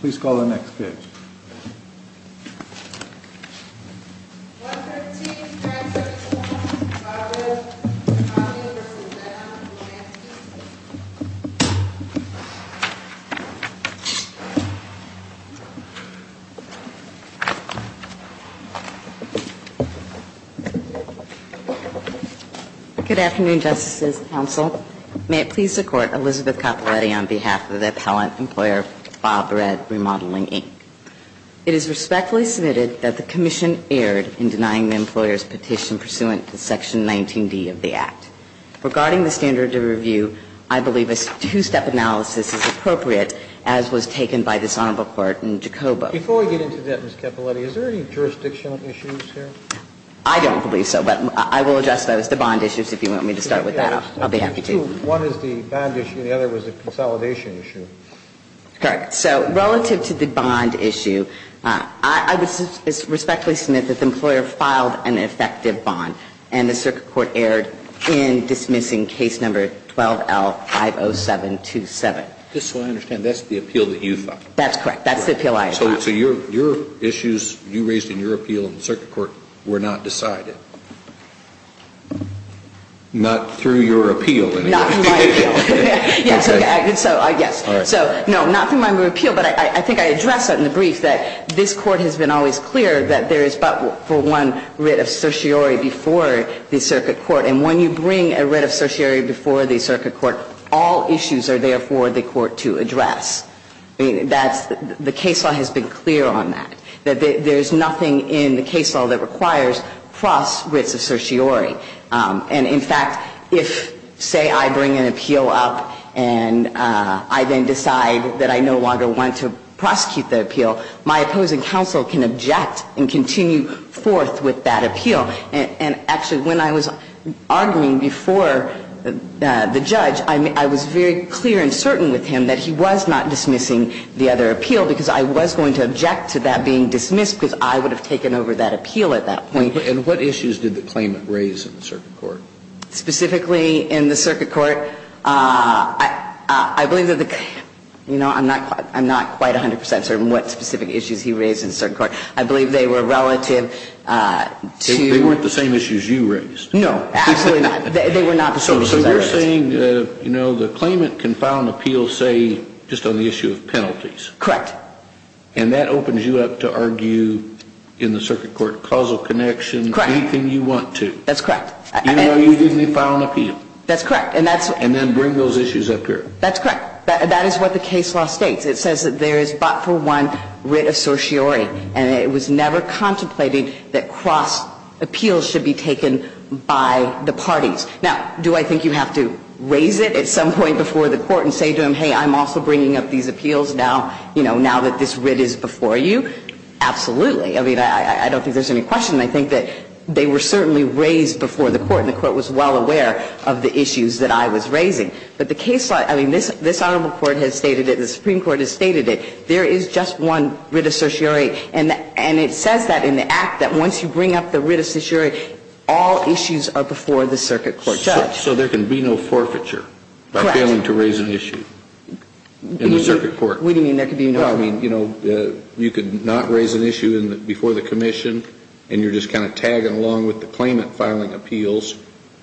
Please call the next pitch. Good afternoon, Justices and Counsel. May it please the Court, Elizabeth Capaletti on behalf of the Appellant Employer Committee. It is my great pleasure to introduce Mr. Bob Red Remodeling, Inc. It is respectfully submitted that the Commission erred in denying the employer's petition pursuant to Section 19D of the Act. Regarding the standard of review, I believe a two-step analysis is appropriate, as was taken by this Honorable Court in Jacobo. Before we get into that, Ms. Capaletti, is there any jurisdictional issues here? I don't believe so, but I will address those. The bond issues, if you want me to start with that, I'll be happy to. I believe one is the bond issue and the other is the consolidation issue. Correct. So relative to the bond issue, I would respectfully submit that the employer filed an effective bond, and the Circuit Court erred in dismissing Case No. 12L-50727. Just so I understand, that's the appeal that you filed? That's correct. That's the appeal I filed. So your issues you raised in your appeal in the Circuit Court were not decided? Not through your appeal? Not through my appeal. Yes. So, no, not through my appeal, but I think I addressed that in the brief, that this Court has been always clear that there is but for one writ of certiorari before the Circuit Court, and when you bring a writ of certiorari before the Court, the Court has been clear on that, that there's nothing in the case law that requires cross writs of certiorari. And, in fact, if, say, I bring an appeal up and I then decide that I no longer want to prosecute the appeal, my opposing counsel can object and continue forth with that appeal. And, actually, when I was arguing before the judge, I was very clear and certain with him that he was not dismissing the other appeal, because I was going to object to that being dismissed, because I would have taken over that appeal at that point. And what issues did the claimant raise in the Circuit Court? Specifically in the Circuit Court, I believe that the – you know, I'm not quite 100 percent certain what specific issues he raised in the Circuit Court. I believe they were relative to – They weren't the same issues you raised. No, absolutely not. They were not the same issues I raised. So you're saying, you know, the claimant can file an appeal, say, just on the issue of penalties. Correct. And that opens you up to argue in the Circuit Court causal connections. Correct. Anything you want to. That's correct. Even though you didn't file an appeal. That's correct. And that's – And then bring those issues up here. That's correct. That is what the case law states. It says that there is but for one writ of certiorari. And it was never contemplated that cross appeals should be taken by the parties. Now, do I think you have to raise it at some point before the Court and say to them, hey, I'm also bringing up these appeals now, you know, now that this writ is before you? Absolutely. I mean, I don't think there's any question. I think that they were certainly raised before the Court, and the Court was well aware of the issues that I was raising. But the case law – I mean, this Honorable Court has stated it, the Supreme Court has stated it. There is just one writ of certiorari, and it says that in the Act, that once you bring up the writ of certiorari, all issues are before the circuit court judge. So there can be no forfeiture by failing to raise an issue in the circuit court. We didn't mean there could be no – No, I mean, you know, you could not raise an issue before the Commission, and you're just kind of tagging along with the claimant filing appeals.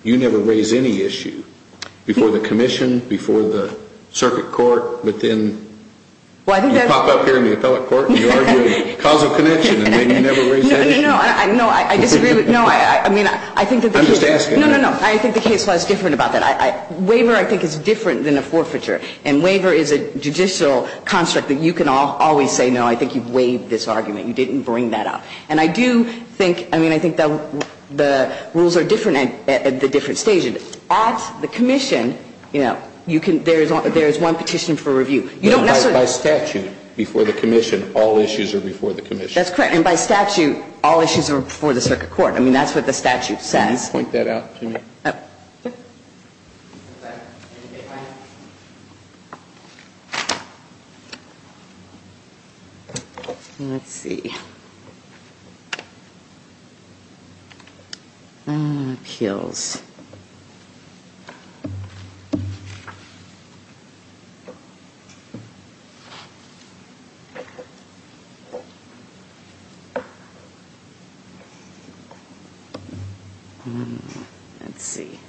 You never raise any issue before the Commission, before the circuit court, but then – Well, I think that's – You pop up here in the appellate court and you argue causal connection, and then you never raise that issue. No, no, no. I disagree with – no, I mean, I think that – I'm just asking. No, no, no. I think the case law is different about that. Waiver, I think, is different than a forfeiture, and waiver is a judicial construct that you can always say, no, I think you've waived this argument. You didn't bring that up. And I do think – I mean, I think the rules are different at the different stages. At the Commission, you know, you can – there is one petition for review. You don't necessarily – By statute, before the Commission, all issues are before the Commission. That's correct. And by statute, all issues are before the circuit court. I mean, that's what the statute says. Can you point that out to me? Oh, sure. Let's see. Appeals. Let's see.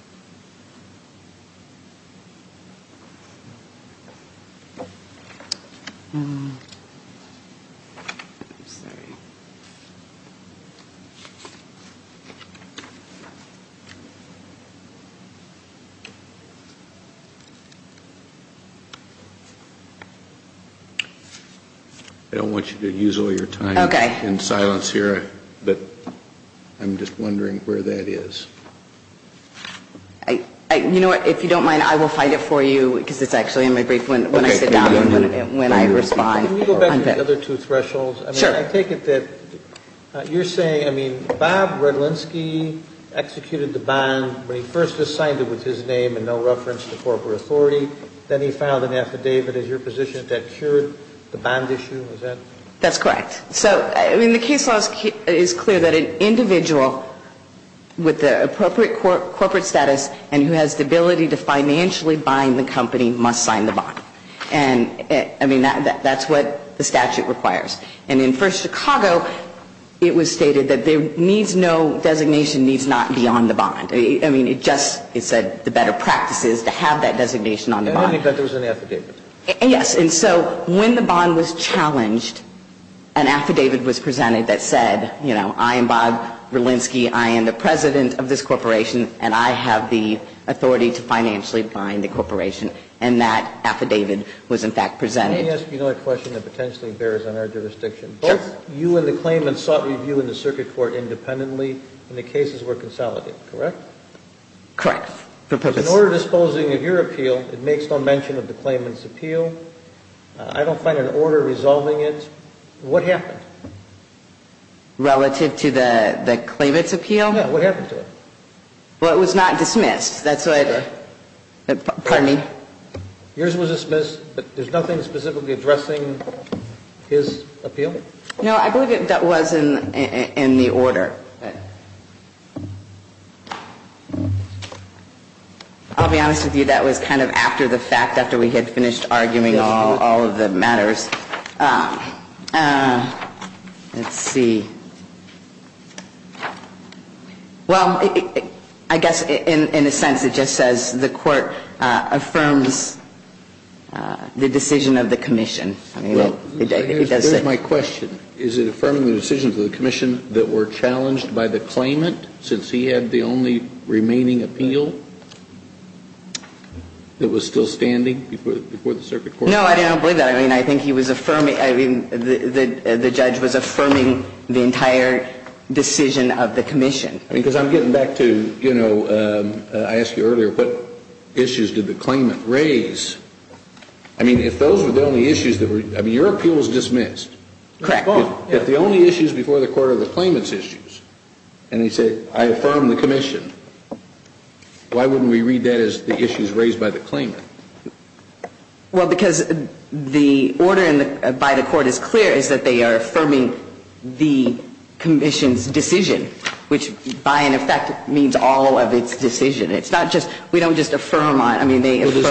I don't want you to use all your time. Okay. And silence here. But I'm just wondering where that is. You know what? If you don't mind, I will find it for you, because it's actually in my brief when I sit down and when I respond. Can we go back to the other two thresholds? Sure. I take it that you're saying – I mean, Bob Redlinsky executed the bond when he first assigned it with his name and no reference to corporate authority. Then he filed an affidavit. Is your position that that cured the bond issue? Is that – That's correct. So, I mean, the case law is clear that an individual with the appropriate corporate status and who has the ability to financially bind the company must sign the bond. And, I mean, that's what the statute requires. And in First Chicago, it was stated that there needs no designation needs not be on the bond. I mean, it just – it said the better practice is to have that designation on the bond. I don't think that there was an affidavit. Yes. And so when the bond was challenged, an affidavit was presented that said, you know, I am Bob Redlinsky, I am the president of this corporation, and I have the authority to financially bind the corporation. And that affidavit was, in fact, presented. Let me ask you another question that potentially bears on our jurisdiction. Sure. Both you and the claimant sought review in the circuit court independently and the cases were consolidated, correct? Correct. In order of disposing of your appeal, it makes no mention of the claimant's appeal. I don't find an order resolving it. What happened? Relative to the claimant's appeal? Yeah. What happened to it? Well, it was not dismissed. That's what – pardon me? Yours was dismissed, but there's nothing specifically addressing his appeal? No, I believe that was in the order. I'll be honest with you, that was kind of after the fact, after we had finished arguing all of the matters. Let's see. Well, I guess in a sense it just says the court affirms the decision of the commission. Well, here's my question. Is it affirming the decision of the commission that were challenged by the claimant since he had the only remaining appeal that was still standing before the circuit court? No, I don't believe that. I mean, I think he was affirming – I mean, the judge was affirming the entire decision of the commission. I mean, because I'm getting back to, you know, I asked you earlier what issues did the claimant raise. I mean, if those were the only issues that were – I mean, your appeal was dismissed. Correct. If the only issues before the court are the claimant's issues, and he said, I affirm the commission, why wouldn't we read that as the issues raised by the claimant? Well, because the order by the court is clear, is that they are affirming the commission's decision, which by and of fact means all of its decision. It's not just – we don't just affirm on – I mean, they affirm – No,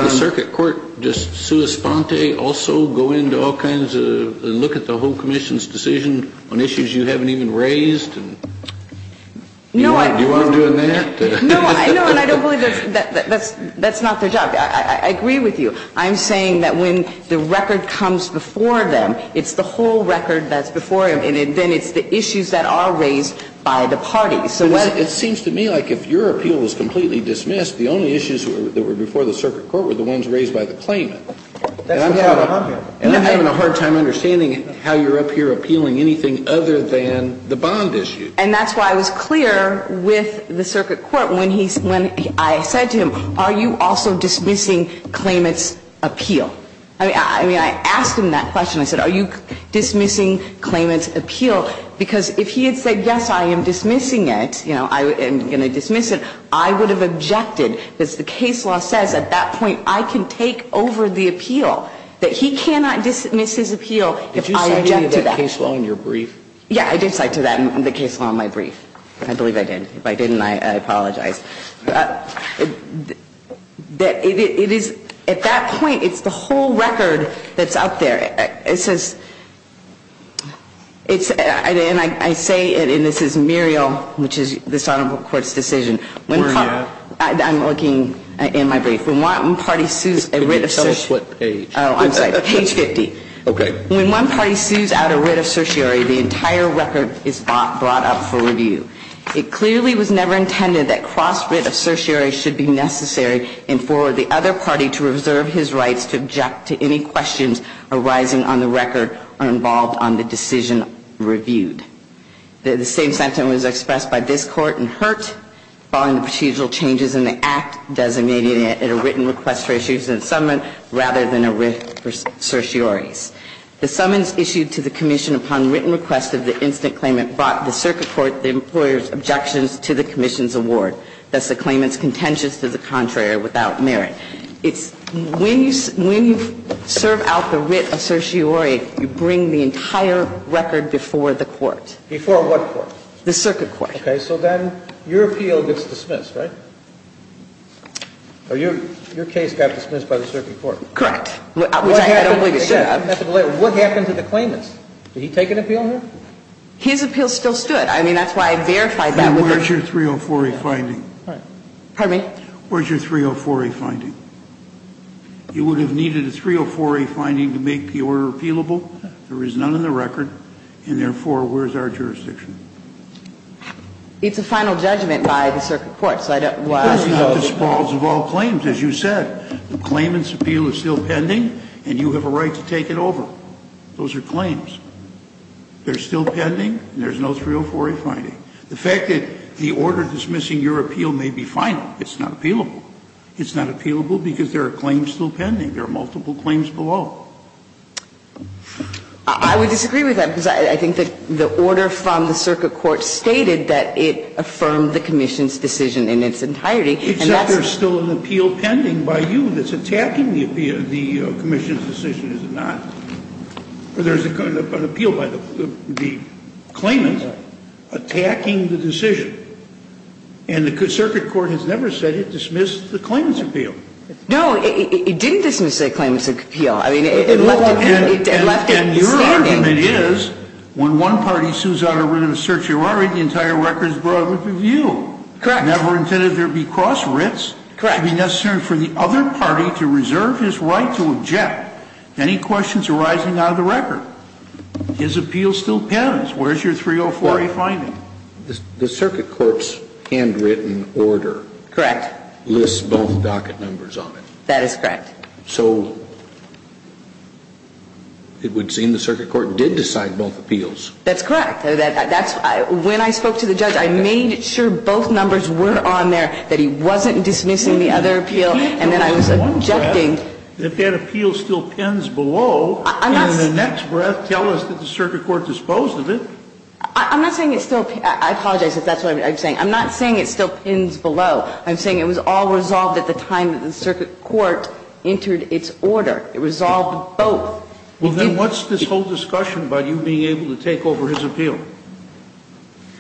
I – Do you want to do that? No, I – no, and I don't believe that's – that's not their job. I agree with you. I'm saying that when the record comes before them, it's the whole record that's before them, and then it's the issues that are raised by the parties. It seems to me like if your appeal was completely dismissed, the only issues that were before the circuit court were the ones raised by the claimant. That's what's going on here. And I'm having a hard time understanding how you're up here appealing anything other than the bond issue. And that's why I was clear with the circuit court when he – when I said to him, are you also dismissing claimant's appeal? I mean, I asked him that question. I said, are you dismissing claimant's appeal? Because if he had said, yes, I am dismissing it, you know, I am going to dismiss it, I would have objected because the case law says at that point I can take over the appeal, that he cannot dismiss his appeal if I object to that. Did you cite any of that case law in your brief? Yeah, I did cite to that in the case law in my brief. I believe I did. If I didn't, I apologize. It is – at that point, it's the whole record that's out there. It says – it's – and I say it, and this is Muriel, which is this Honorable Court's decision. I'm looking in my brief. When one party sues a writ of certiorari. Oh, I'm sorry. Page 50. Okay. When one party sues out a writ of certiorari, the entire record is brought up for review. It clearly was never intended that cross-writ of certiorari should be necessary and for the other party to reserve his rights to object to any questions arising on the record or involved on the decision reviewed. The same sentence was expressed by this Court in Hurt following the procedural changes in the Act designating it a written request for issuance of a summons rather than a writ for certioraris. The summons issued to the commission upon written request of the instant claimant brought the circuit court the employer's objections to the commission's award. It's not that the claimant is contentious to the contrary or without merit. It's when you serve out the writ of certiorari, you bring the entire record before the court. Before what court? The circuit court. Okay. So then your appeal gets dismissed, right? Your case got dismissed by the circuit court. Correct. Which I don't believe it should have. What happened to the claimant? Did he take an appeal here? His appeal still stood. I mean, that's why I verified that. Where's your 304A finding? Pardon me? Where's your 304A finding? You would have needed a 304A finding to make the order appealable. There is none in the record, and therefore, where's our jurisdiction? It's a final judgment by the circuit court, so I don't want to ask those. Those are not the spalls of all claims, as you said. The claimant's appeal is still pending, and you have a right to take it over. Those are claims. They're still pending, and there's no 304A finding. The fact that the order dismissing your appeal may be final, it's not appealable. It's not appealable because there are claims still pending. There are multiple claims below. I would disagree with that, because I think that the order from the circuit court stated that it affirmed the commission's decision in its entirety. Except there's still an appeal pending by you that's attacking the commission's decision, is it not? There's an appeal by the claimant attacking the decision, and the circuit court has never said it dismissed the claimant's appeal. No, it didn't dismiss a claimant's appeal. I mean, it left it standing. And your argument is when one party sues out a writ of certiorari, the entire record is brought up for review. Correct. Never intended there to be cross writs. Correct. It should be necessary for the other party to reserve his right to object. Any questions arising out of the record? His appeal still pends. Where's your 304A finding? The circuit court's handwritten order. Correct. Lists both docket numbers on it. That is correct. So it would seem the circuit court did decide both appeals. That's correct. When I spoke to the judge, I made sure both numbers were on there, that he wasn't dismissing the other appeal, and then I was objecting. If that appeal still pends below, in the next breath tell us that the circuit court disposed of it. I'm not saying it still pends. I apologize if that's what I'm saying. I'm not saying it still pends below. I'm saying it was all resolved at the time that the circuit court entered its order. It resolved both. Well, then what's this whole discussion about you being able to take over his appeal?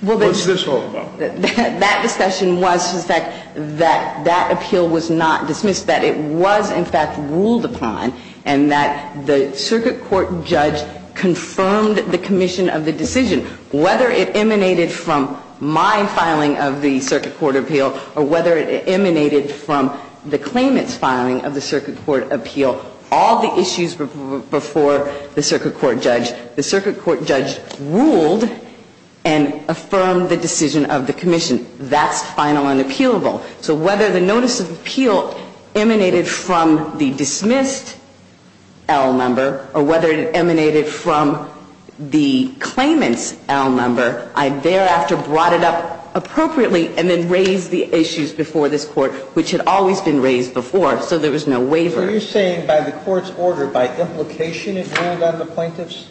What's this all about? Well, that discussion was that that appeal was not dismissed, that it was in fact ruled upon, and that the circuit court judge confirmed the commission of the decision. Whether it emanated from my filing of the circuit court appeal or whether it emanated from the claimant's filing of the circuit court appeal, all the issues were before the circuit court judge. The circuit court judge ruled and affirmed the decision of the commission. That's final and appealable. So whether the notice of appeal emanated from the dismissed L member or whether it emanated from the claimant's L member, I thereafter brought it up appropriately and then raised the issues before this Court, which had always been raised before, so there was no waiver. So are you saying by the Court's order, by implication it ruled on the plaintiff's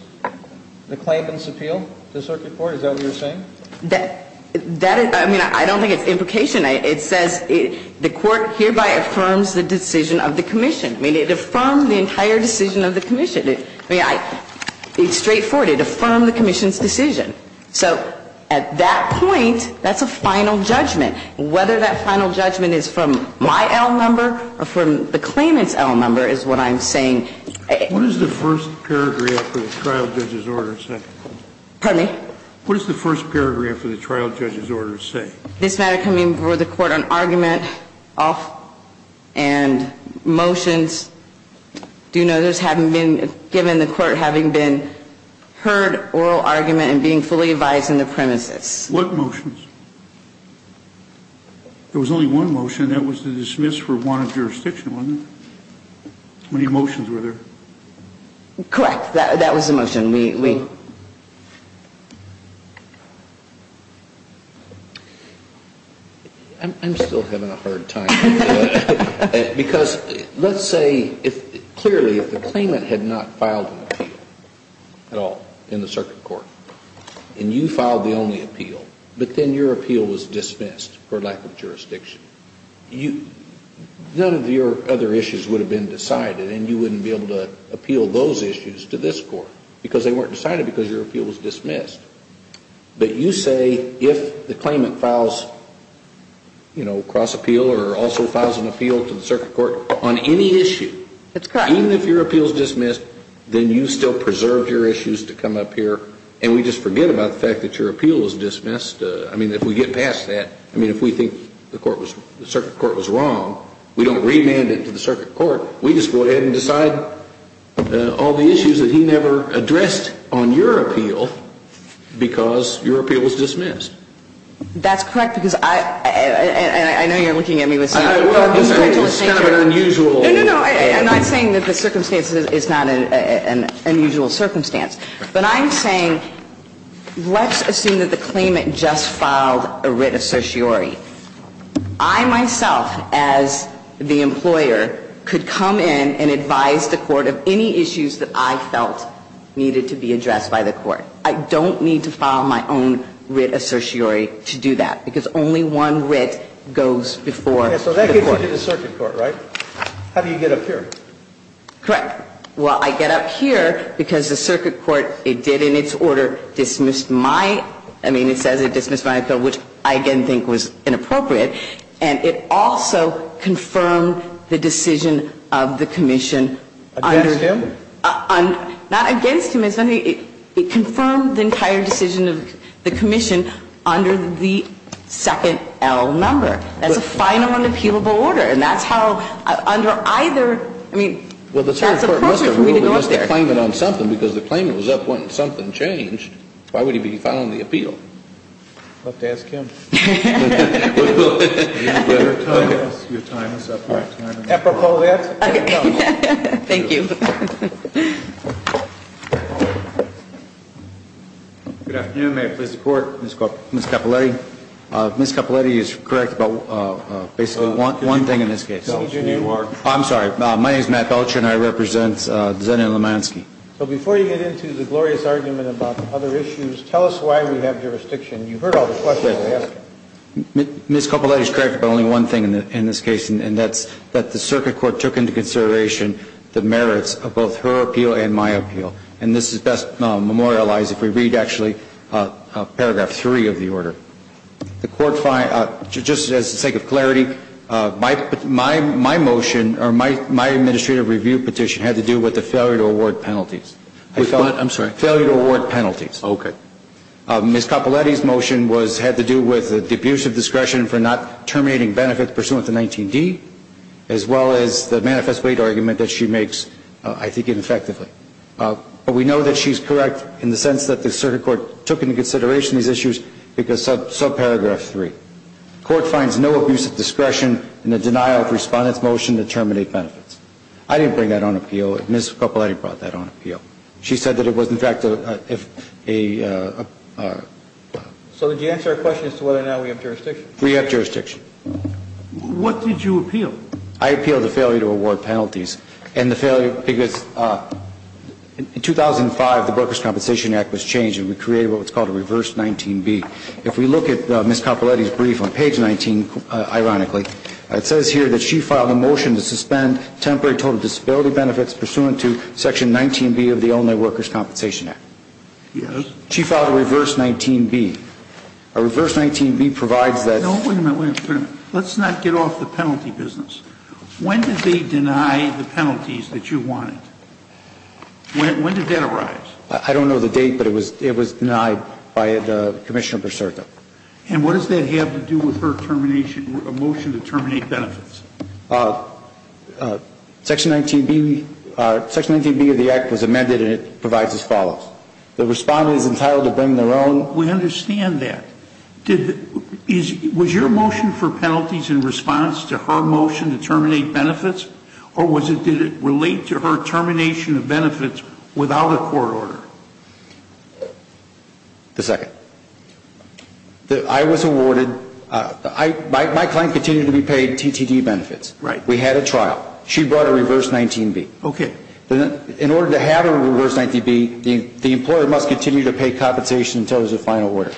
claimant's appeal to the circuit court, is that what you're saying? I mean, I don't think it's implication. It says the Court hereby affirms the decision of the commission. I mean, it affirmed the entire decision of the commission. I mean, it's straightforward. It affirmed the commission's decision. So at that point, that's a final judgment. Whether that final judgment is from my L member or from the claimant's L member is what I'm saying. What does the first paragraph of the trial judge's order say? Pardon me? What does the first paragraph of the trial judge's order say? This matter coming before the Court on argument, off and motions, due notice having been given, the Court having been heard oral argument and being fully advised in the premises. What motions? There was only one motion, and that was to dismiss for wanted jurisdiction, wasn't it? How many motions were there? Correct. That was the motion. We ---- I'm still having a hard time. Because let's say, clearly, if the claimant had not filed an appeal at all in the circuit court, and you filed the only appeal, but then your appeal was dismissed for lack of jurisdiction, none of your other issues would have been decided, and you wouldn't be able to appeal those issues to this court, because they weren't decided because your appeal was dismissed. But you say, if the claimant files, you know, cross appeal or also files an appeal to the circuit court on any issue, even if your appeal is dismissed, then you still preserved your And we just forget about the fact that your appeal was dismissed. I mean, if we get past that, I mean, if we think the circuit court was wrong, we don't remand it to the circuit court. We just go ahead and decide all the issues that he never addressed on your appeal because your appeal was dismissed. That's correct, because I ---- and I know you're looking at me with some ---- Well, it's kind of an unusual ---- No, no, no. I'm not saying that the circumstance is not an unusual circumstance. But I'm saying let's assume that the claimant just filed a writ of certiorari. I myself, as the employer, could come in and advise the court of any issues that I felt needed to be addressed by the court. I don't need to file my own writ of certiorari to do that, because only one writ goes before the court. So that gets you to the circuit court, right? How do you get up here? Correct. Well, I get up here because the circuit court, it did in its order dismiss my ---- I mean, it says it dismissed my appeal, which I again think was inappropriate. And it also confirmed the decision of the commission under ---- Against him? Not against him. It confirmed the entire decision of the commission under the second L number. That's a final and appealable order. And that's how under either ---- Well, the circuit court must have ruled against the claimant on something, because the claimant was up when something changed. Why would he be filing the appeal? We'll have to ask him. Apropos that. Thank you. Good afternoon. May it please the Court. Ms. Cappelletti. Ms. Cappelletti is correct about basically one thing in this case. I'm sorry. My name is Matt Belcher, and I represent Zenon Lemansky. So before you get into the glorious argument about other issues, tell us why we have jurisdiction. You heard all the questions I asked. Ms. Cappelletti is correct about only one thing in this case, and that's that the circuit court took into consideration the merits of both her appeal and my appeal. And this is best memorialized if we read actually paragraph 3 of the order. Just for the sake of clarity, my motion or my administrative review petition had to do with the failure to award penalties. I'm sorry. Failure to award penalties. Okay. Ms. Cappelletti's motion had to do with the abuse of discretion for not terminating benefits pursuant to 19D, as well as the manifest weight argument that she makes, I think, ineffectively. But we know that she's correct in the sense that the circuit court took into consideration these issues because of subparagraph 3. Court finds no abuse of discretion in the denial of respondent's motion to terminate benefits. I didn't bring that on appeal. Ms. Cappelletti brought that on appeal. She said that it was, in fact, if a ---- So did you answer her question as to whether or not we have jurisdiction? We have jurisdiction. What did you appeal? I appealed the failure to award penalties, and the failure because in 2005, the If we look at Ms. Cappelletti's brief on page 19, ironically, it says here that she filed a motion to suspend temporary total disability benefits pursuant to section 19B of the Elderly Workers' Compensation Act. Yes. She filed a reverse 19B. A reverse 19B provides that ---- No, wait a minute. Wait a minute. Let's not get off the penalty business. When did they deny the penalties that you wanted? When did that arise? I don't know the date, but it was denied by Commissioner Perserta. And what does that have to do with her termination, her motion to terminate benefits? Section 19B of the Act was amended, and it provides as follows. The respondent is entitled to bring their own ---- We understand that. Was your motion for penalties in response to her motion to terminate benefits, or did it relate to her termination of benefits without a court order? The second. I was awarded ---- my client continued to be paid TTD benefits. Right. We had a trial. She brought a reverse 19B. Okay. In order to have a reverse 19B, the employer must continue to pay compensation until there's a final order.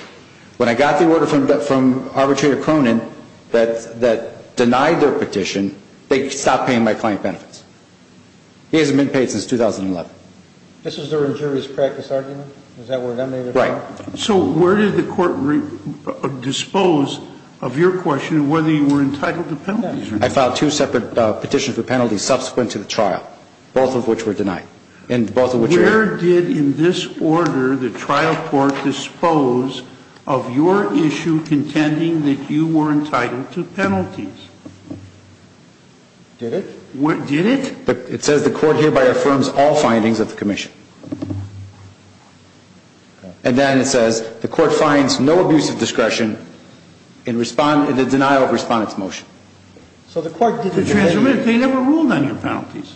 When I got the order from Arbitrator Cronin that denied their petition, they stopped paying my client benefits. He hasn't been paid since 2011. This is their injurious practice argument? Is that what it is? Right. So where did the court dispose of your question of whether you were entitled to penalties or not? I filed two separate petitions for penalties subsequent to the trial, both of which were denied, and both of which were ---- Where did, in this order, the trial court dispose of your issue contending that you were entitled to penalties? Did it? It says the court hereby affirms all findings of the commission. And then it says the court finds no abuse of discretion in the denial of respondent's motion. So the court did not ---- They never ruled on your penalties.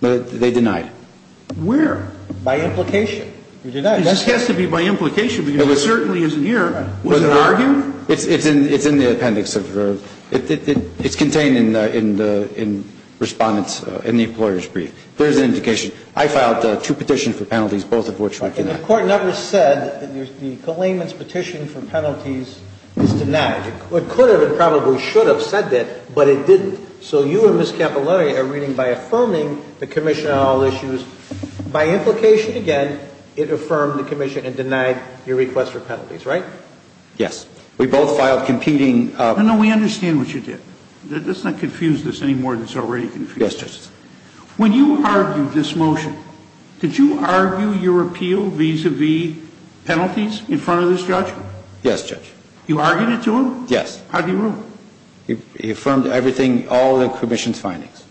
They denied it. Where? By implication. It has to be by implication because it certainly isn't here. Was it argued? It's in the appendix. It's contained in the respondent's, in the employer's brief. There's an indication. I filed two petitions for penalties, both of which were denied. And the court never said that the claimant's petition for penalties is denied. It could have and probably should have said that, but it didn't. So you and Ms. Capilouto are reading by affirming the commission on all issues. By implication, again, it affirmed the commission and denied your request for penalties, right? Yes. We both filed competing ---- No, no, we understand what you did. Let's not confuse this any more than it's already confused. Yes, Judge. When you argued this motion, did you argue your appeal vis-à-vis penalties in front of this judge? Yes, Judge. You argued it to him? Yes. How do you rule? He affirmed everything, all the commission's findings.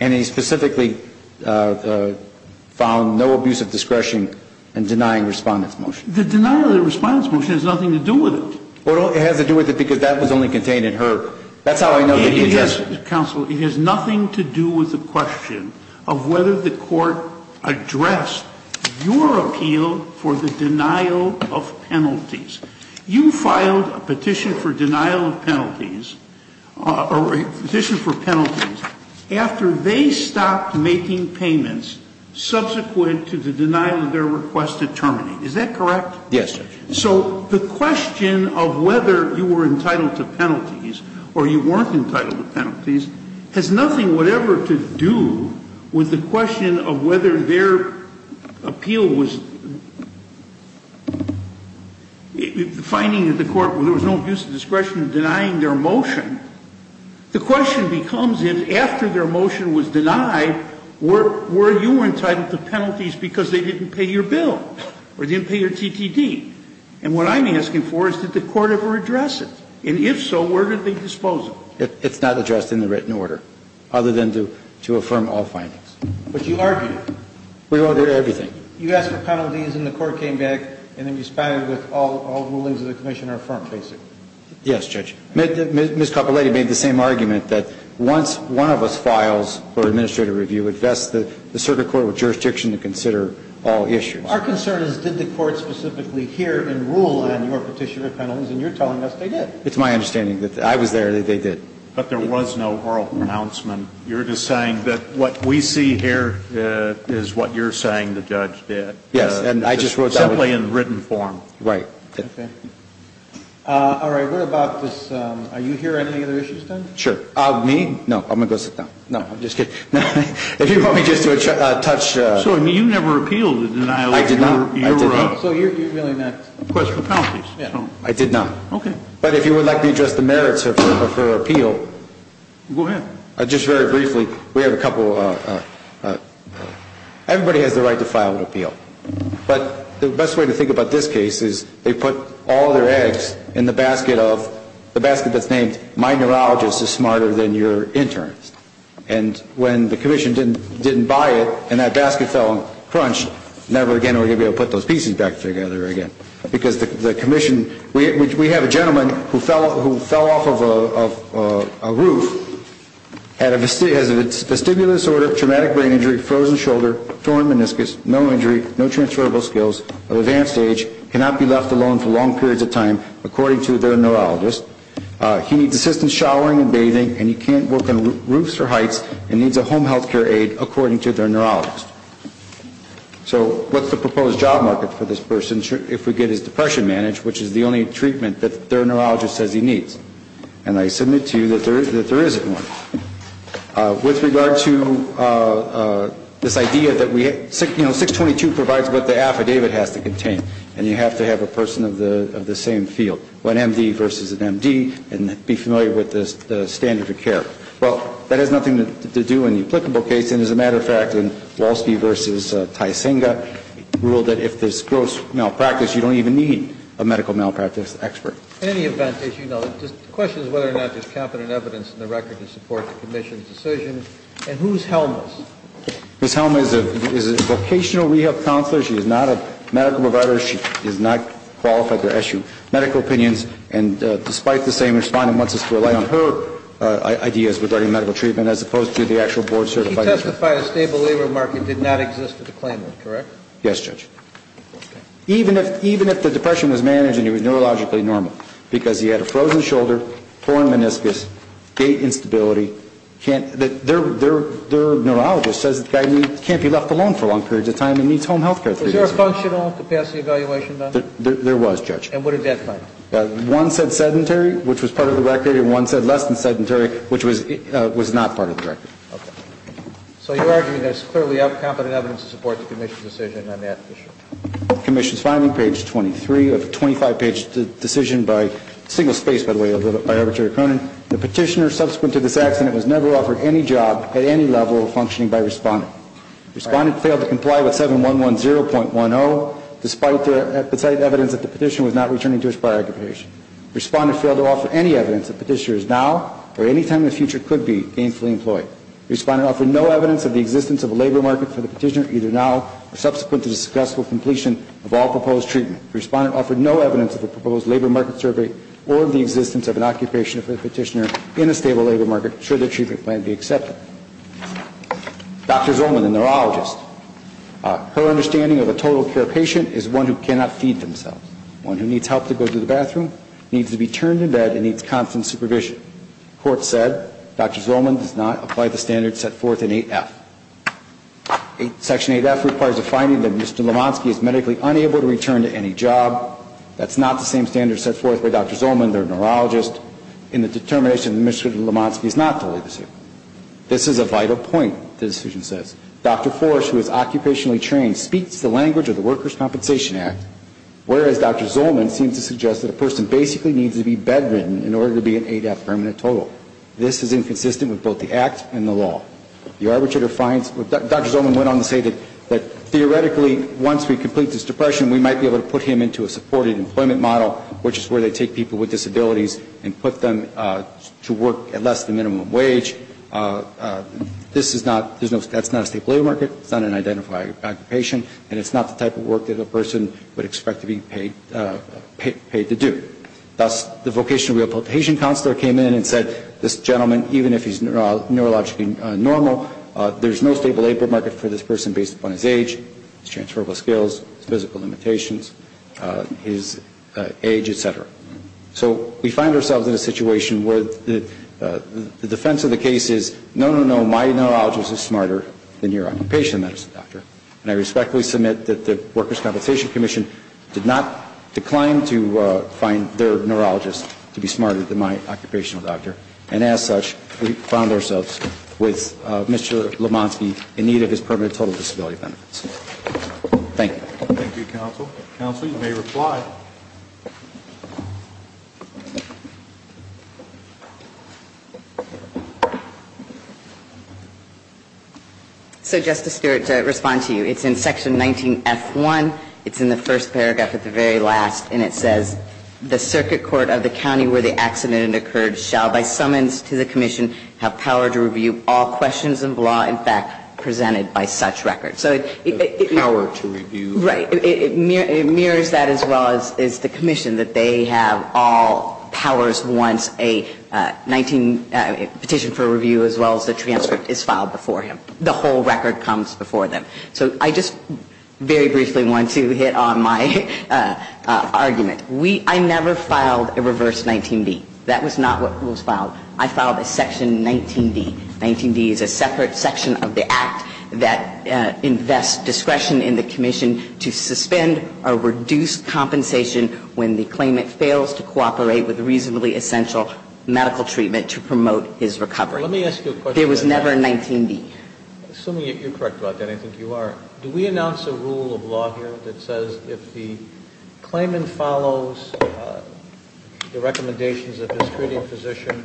And he specifically found no abuse of discretion in denying respondent's motion. The denial of the respondent's motion has nothing to do with it. Well, it has to do with it because that was only contained in her. That's how I know that you did it. Counsel, it has nothing to do with the question of whether the court addressed your appeal for the denial of penalties. You filed a petition for denial of penalties or a petition for penalties after they stopped making payments subsequent to the denial of their request to terminate. Is that correct? Yes, Judge. So the question of whether you were entitled to penalties or you weren't entitled to penalties has nothing whatever to do with the question of whether their appeal was finding that the court ---- there was no abuse of discretion in denying their motion. The question becomes, if after their motion was denied, were you entitled to penalties because they didn't pay your bill or didn't pay your TTD? And what I'm asking for is did the court ever address it? And if so, where did they dispose of it? It's not addressed in the written order other than to affirm all findings. But you argued it. We argued everything. You asked for penalties and the court came back and responded with all rulings of the commission are affirmed, basically. Yes, Judge. Ms. Capoletti made the same argument that once one of us files for administrative review, it vests the circuit court with jurisdiction to consider all issues. Our concern is did the court specifically hear and rule on your petition for penalties, and you're telling us they did. It's my understanding that I was there, that they did. But there was no oral pronouncement. You're just saying that what we see here is what you're saying the judge did. Yes, and I just wrote that. Simply in written form. Right. Okay. All right. What about this? Are you here on any other issues, then? Sure. Me? No. I'm going to go sit down. No, I'm just kidding. If you want me just to touch. So you never appealed the denial? I did not. So you're really not. Of course, for penalties. I did not. Okay. But if you would like me to address the merits of her appeal. Go ahead. Just very briefly, we have a couple of ‑‑ everybody has the right to file an appeal. But the best way to think about this case is they put all their eggs in the basket of the basket that's named, my neurologist is smarter than your interns. And when the commission didn't buy it and that basket fell and crunched, never again are we going to be able to put those pieces back together again. Because the commission ‑‑ we have a gentleman who fell off of a roof, has a vestibular disorder, traumatic brain injury, frozen shoulder, torn meniscus, no injury, no transferable skills, of advanced age, cannot be left alone for long periods of time, according to their neurologist. He needs assistance showering and bathing and he can't work on roofs or heights and needs a home health care aid, according to their neurologist. So what's the proposed job market for this person if we get his depression managed, which is the only treatment that their neurologist says he needs? And I submit to you that there isn't one. With regard to this idea that 622 provides what the affidavit has to contain and you have to have a person of the same field, an MD versus an MD, and be familiar with the standard of care. Well, that has nothing to do in the applicable case, and as a matter of fact, in Walsky versus Tisinga, ruled that if there's gross malpractice, you don't even need a medical malpractice expert. In any event, as you know, the question is whether or not there's competent evidence in the record to support the commission's decision. And who's Helma's? Ms. Helma is a vocational rehab counselor. She is not a medical provider. She is not qualified to issue medical opinions, and despite the same respondent wants us to rely on her ideas regarding medical treatment as opposed to the actual board certified expert. She testified a stable labor market did not exist for the claimant, correct? Yes, Judge. Even if the depression was managed and he was neurologically normal, because he had a frozen shoulder, poor meniscus, gait instability, their neurologist says the guy can't be left alone for long periods of time and needs home health care. Was there a functional capacity evaluation done? There was, Judge. And what did that find? One said sedentary, which was part of the record, and one said less than sedentary, which was not part of the record. Okay. So you're arguing there's clearly competent evidence to support the commission's decision on that issue. Commission's filing page 23 of a 25-page decision by single space, by the way, by Arbitrator Cronin. The petitioner subsequent to this accident was never offered any job at any level of functioning by respondent. Respondent failed to comply with 7110.10, despite the evidence that the petitioner was not returning to his prior occupation. Respondent failed to offer any evidence that petitioner is now or any time in the future could be gainfully employed. Respondent offered no evidence of the existence of a labor market for the petitioner either now or subsequent to the successful completion of all proposed treatment. Respondent offered no evidence of a proposed labor market survey or the existence of an occupation for the petitioner in a stable labor market, should the treatment plan be accepted. Dr. Zolman, the neurologist, her understanding of a total care patient is one who cannot feed themselves, one who needs help to go to the bathroom, needs to be turned in bed and needs constant supervision. Court said Dr. Zolman does not apply the standards set forth in 8F. Section 8F requires a finding that Mr. Lemonski is medically unable to return to any job. That's not the same standards set forth by Dr. Zolman, their neurologist, in the determination that Mr. Lemonski is not fully disabled. This is a vital point, the decision says. Dr. Forrest, who is occupationally trained, speaks the language of the Workers' Compensation Act, whereas Dr. Zolman seems to suggest that a person basically needs to be bedridden in order to be in 8F permanent total. This is inconsistent with both the Act and the law. The arbitrator finds, Dr. Zolman went on to say that, theoretically, once we complete this depression, we might be able to put him into a supported employment model, which is where they take people with disabilities and put them to work at less than minimum wage. This is not, that's not a stable labor market, it's not an identified occupation, and it's not the type of work that a person would expect to be paid to do. Thus, the vocational rehabilitation counselor came in and said, this gentleman, even if he's neurologically normal, there's no stable labor market for this person based upon his age, his transferable skills, his physical limitations, his age, et cetera. So we find ourselves in a situation where the defense of the case is, no, no, no, my neurologist is smarter than your occupational medicine doctor, and I respectfully submit that the Workers' Compensation Commission did not decline to find their neurologist to be smarter than my occupational doctor, and as such, we found ourselves with Mr. Lomansky in need of his permanent total disability benefits. Thank you. Thank you, counsel. Counsel, you may reply. So, Justice Stewart, to respond to you, it's in section 19F1, it's in the first paragraph at the very last, and it says, the circuit court of the county where the accident occurred shall by summons to the commission have power to review all questions of law in fact presented by such record. So it... The power to review... Right. It mirrors that as well as, you know, is the commission that they have all powers once a petition for review as well as the transcript is filed before him. The whole record comes before them. So I just very briefly want to hit on my argument. I never filed a reverse 19D. That was not what was filed. I filed a section 19D. 19D is a separate section of the act that invests discretion in the commission to suspend or reduce compensation when the claimant fails to cooperate with reasonably essential medical treatment to promote his recovery. Let me ask you a question. There was never a 19D. Assuming you're correct about that, I think you are. Do we announce a rule of law here that says if the claimant follows the recommendations of this critic physician,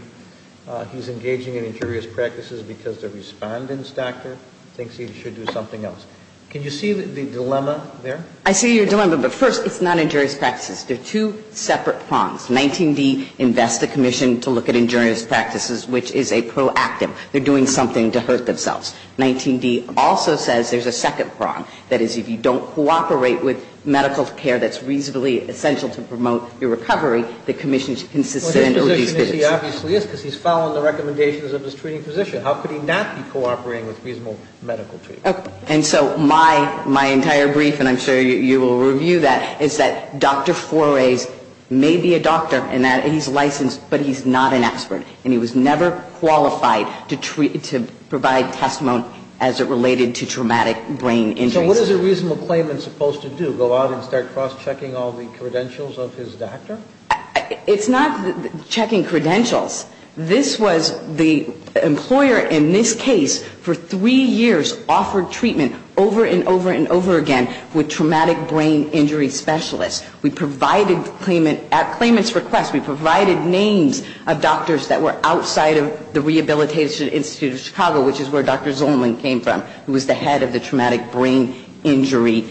he's engaging in injurious practices because the respondent's doctor thinks he should do something else. Can you see the dilemma there? I see your dilemma. But first, it's not injurious practices. They're two separate prongs. 19D invests the commission to look at injurious practices, which is a proactive. They're doing something to hurt themselves. 19D also says there's a second prong. That is, if you don't cooperate with medical care that's reasonably essential to promote your recovery, the commission can suspend or reduce compensation. Well, his position is he obviously is because he's following the recommendations of his treating physician. How could he not be cooperating with reasonable medical treatment? And so my entire brief, and I'm sure you will review that, is that Dr. Foray may be a doctor and that he's licensed, but he's not an expert. And he was never qualified to provide testimony as it related to traumatic brain injuries. So what is a reasonable claimant supposed to do, go out and start cross-checking all the credentials of his doctor? It's not checking credentials. This was the employer in this case for three years offered treatment over and over and over again with traumatic brain injury specialists. We provided claimant's request, we provided names of doctors that were outside of the Rehabilitation Institute of Chicago, which is where Dr. Zolman came from, who was the head of the Traumatic Brain Injury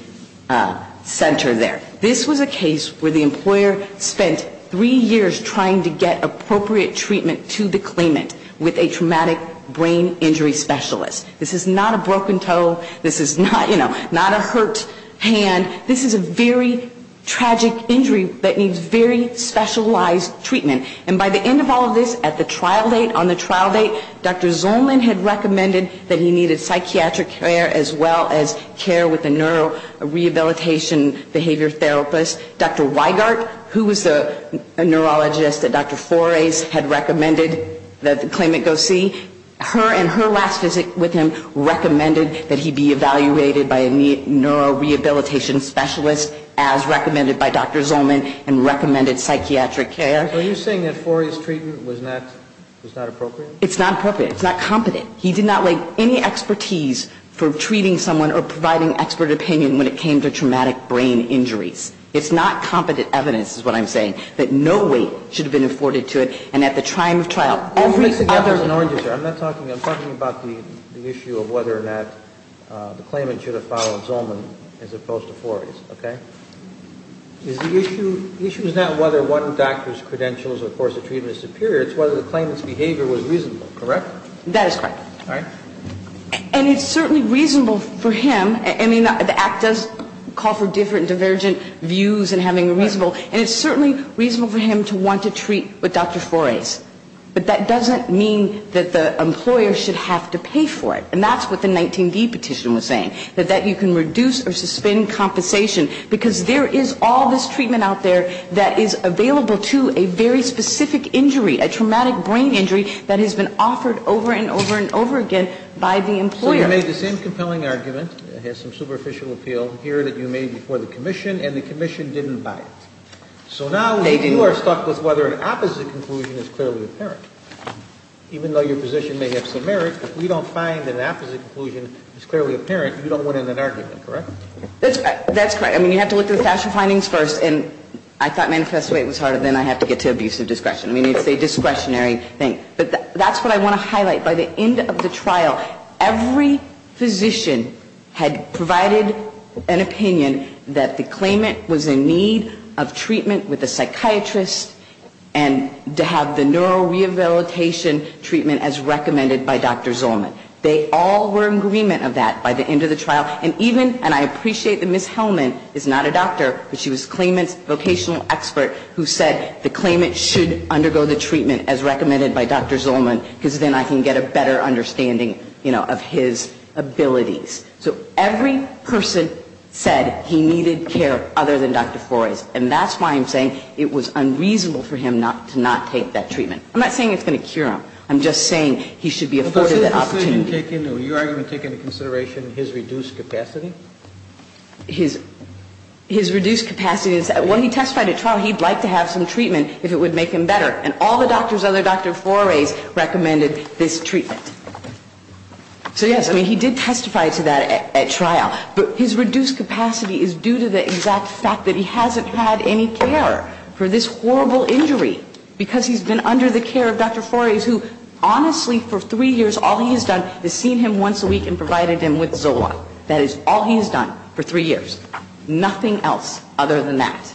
Center there. This was a case where the employer spent three years trying to get appropriate treatment to the claimant with a traumatic brain injury specialist. This is not a broken toe. This is not, you know, not a hurt hand. This is a very tragic injury that needs very specialized treatment. And by the end of all of this, at the trial date, on the trial date, Dr. Zolman had recommended that he needed psychiatric care as well as care with a neurorehabilitation behavior therapist. Dr. Weigart, who was the neurologist that Dr. Foray had recommended that the claimant go see, her and her last visit with him recommended that he be evaluated by a neurorehabilitation specialist as recommended by Dr. Zolman and recommended psychiatric care. Were you saying that Foray's treatment was not appropriate? It's not appropriate. It's not competent. He did not lay any expertise for treating someone or providing expert opinion when it came to traumatic brain injuries. It's not competent evidence, is what I'm saying, that no weight should have been afforded to it. And at the time of trial, every other ---- I'm not talking about the issue of whether or not the claimant should have followed Zolman as opposed to Foray's, okay? The issue is not whether one doctor's credentials or course of treatment is superior. It's whether the claimant's behavior was reasonable, correct? That is correct. All right. And it's certainly reasonable for him. I mean, the act does call for different divergent views and having a reasonable and it's certainly reasonable for him to want to treat with Dr. Foray's. But that doesn't mean that the employer should have to pay for it. And that's what the 19D petition was saying, that you can reduce or suspend compensation because there is all this treatment out there that is available to a very specific injury, a traumatic brain injury that has been offered over and over and over again by the employer. So you made the same compelling argument, it has some superficial appeal here that you made before the commission, and the commission didn't buy it. So now you are stuck with whether an opposite conclusion is clearly apparent. Even though your position may have some merit, if we don't find that an opposite conclusion is clearly apparent, you don't want an argument, correct? That's correct. I mean, you have to look at the factual findings first. And I thought manifest weight was harder than I have to get to abusive discretion. I mean, it's a discretionary thing. But that's what I want to highlight. By the end of the trial, every physician had provided an opinion that the claimant was in need of treatment with a psychiatrist and to have the neurorehabilitation treatment as recommended by Dr. Zolman. They all were in agreement of that by the end of the trial. And even, and I appreciate that Ms. Hellman is not a doctor, but she was claimant's patient, a patient's expert who said the claimant should undergo the treatment as recommended by Dr. Zolman, because then I can get a better understanding of his abilities. So every person said he needed care other than Dr. Flores. And that's why I'm saying it was unreasonable for him to not take that treatment. I'm not saying it's going to cure him. I'm just saying he should be afforded that opportunity. Your argument taking into consideration his reduced capacity? His reduced capacity is that when he testified at trial, he'd like to have some treatment if it would make him better. And all the doctors other than Dr. Flores recommended this treatment. So, yes, I mean, he did testify to that at trial. But his reduced capacity is due to the exact fact that he hasn't had any care for this horrible injury, because he's been under the care of Dr. Flores, who honestly for three years all he has done is seen him once a week and provided him with Zola. That is all he has done for three years. Nothing else other than that.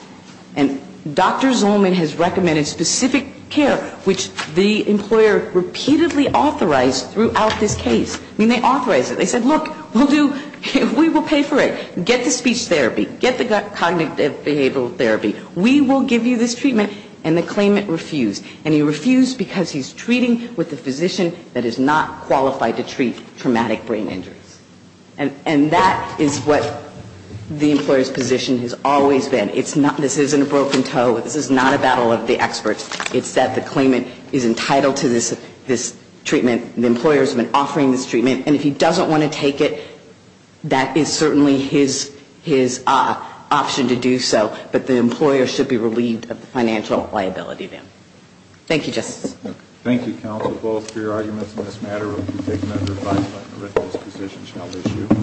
And Dr. Zolman has recommended specific care, which the employer repeatedly authorized throughout this case. I mean, they authorized it. They said, look, we'll do we will pay for it. Get the speech therapy. Get the cognitive behavioral therapy. We will give you this treatment. And the claimant refused. And he refused because he's treating with a physician that is not qualified to treat traumatic brain injuries. And that is what the employer's position has always been. This isn't a broken toe. This is not a battle of the experts. It's that the claimant is entitled to this treatment. The employer has been offering this treatment. And if he doesn't want to take it, that is certainly his option to do so. But the employer should be relieved of the financial liability then. Thank you, Justice. Thank you, counsel, both for your arguments on this matter. We'll take them under a five-point original position shall issue.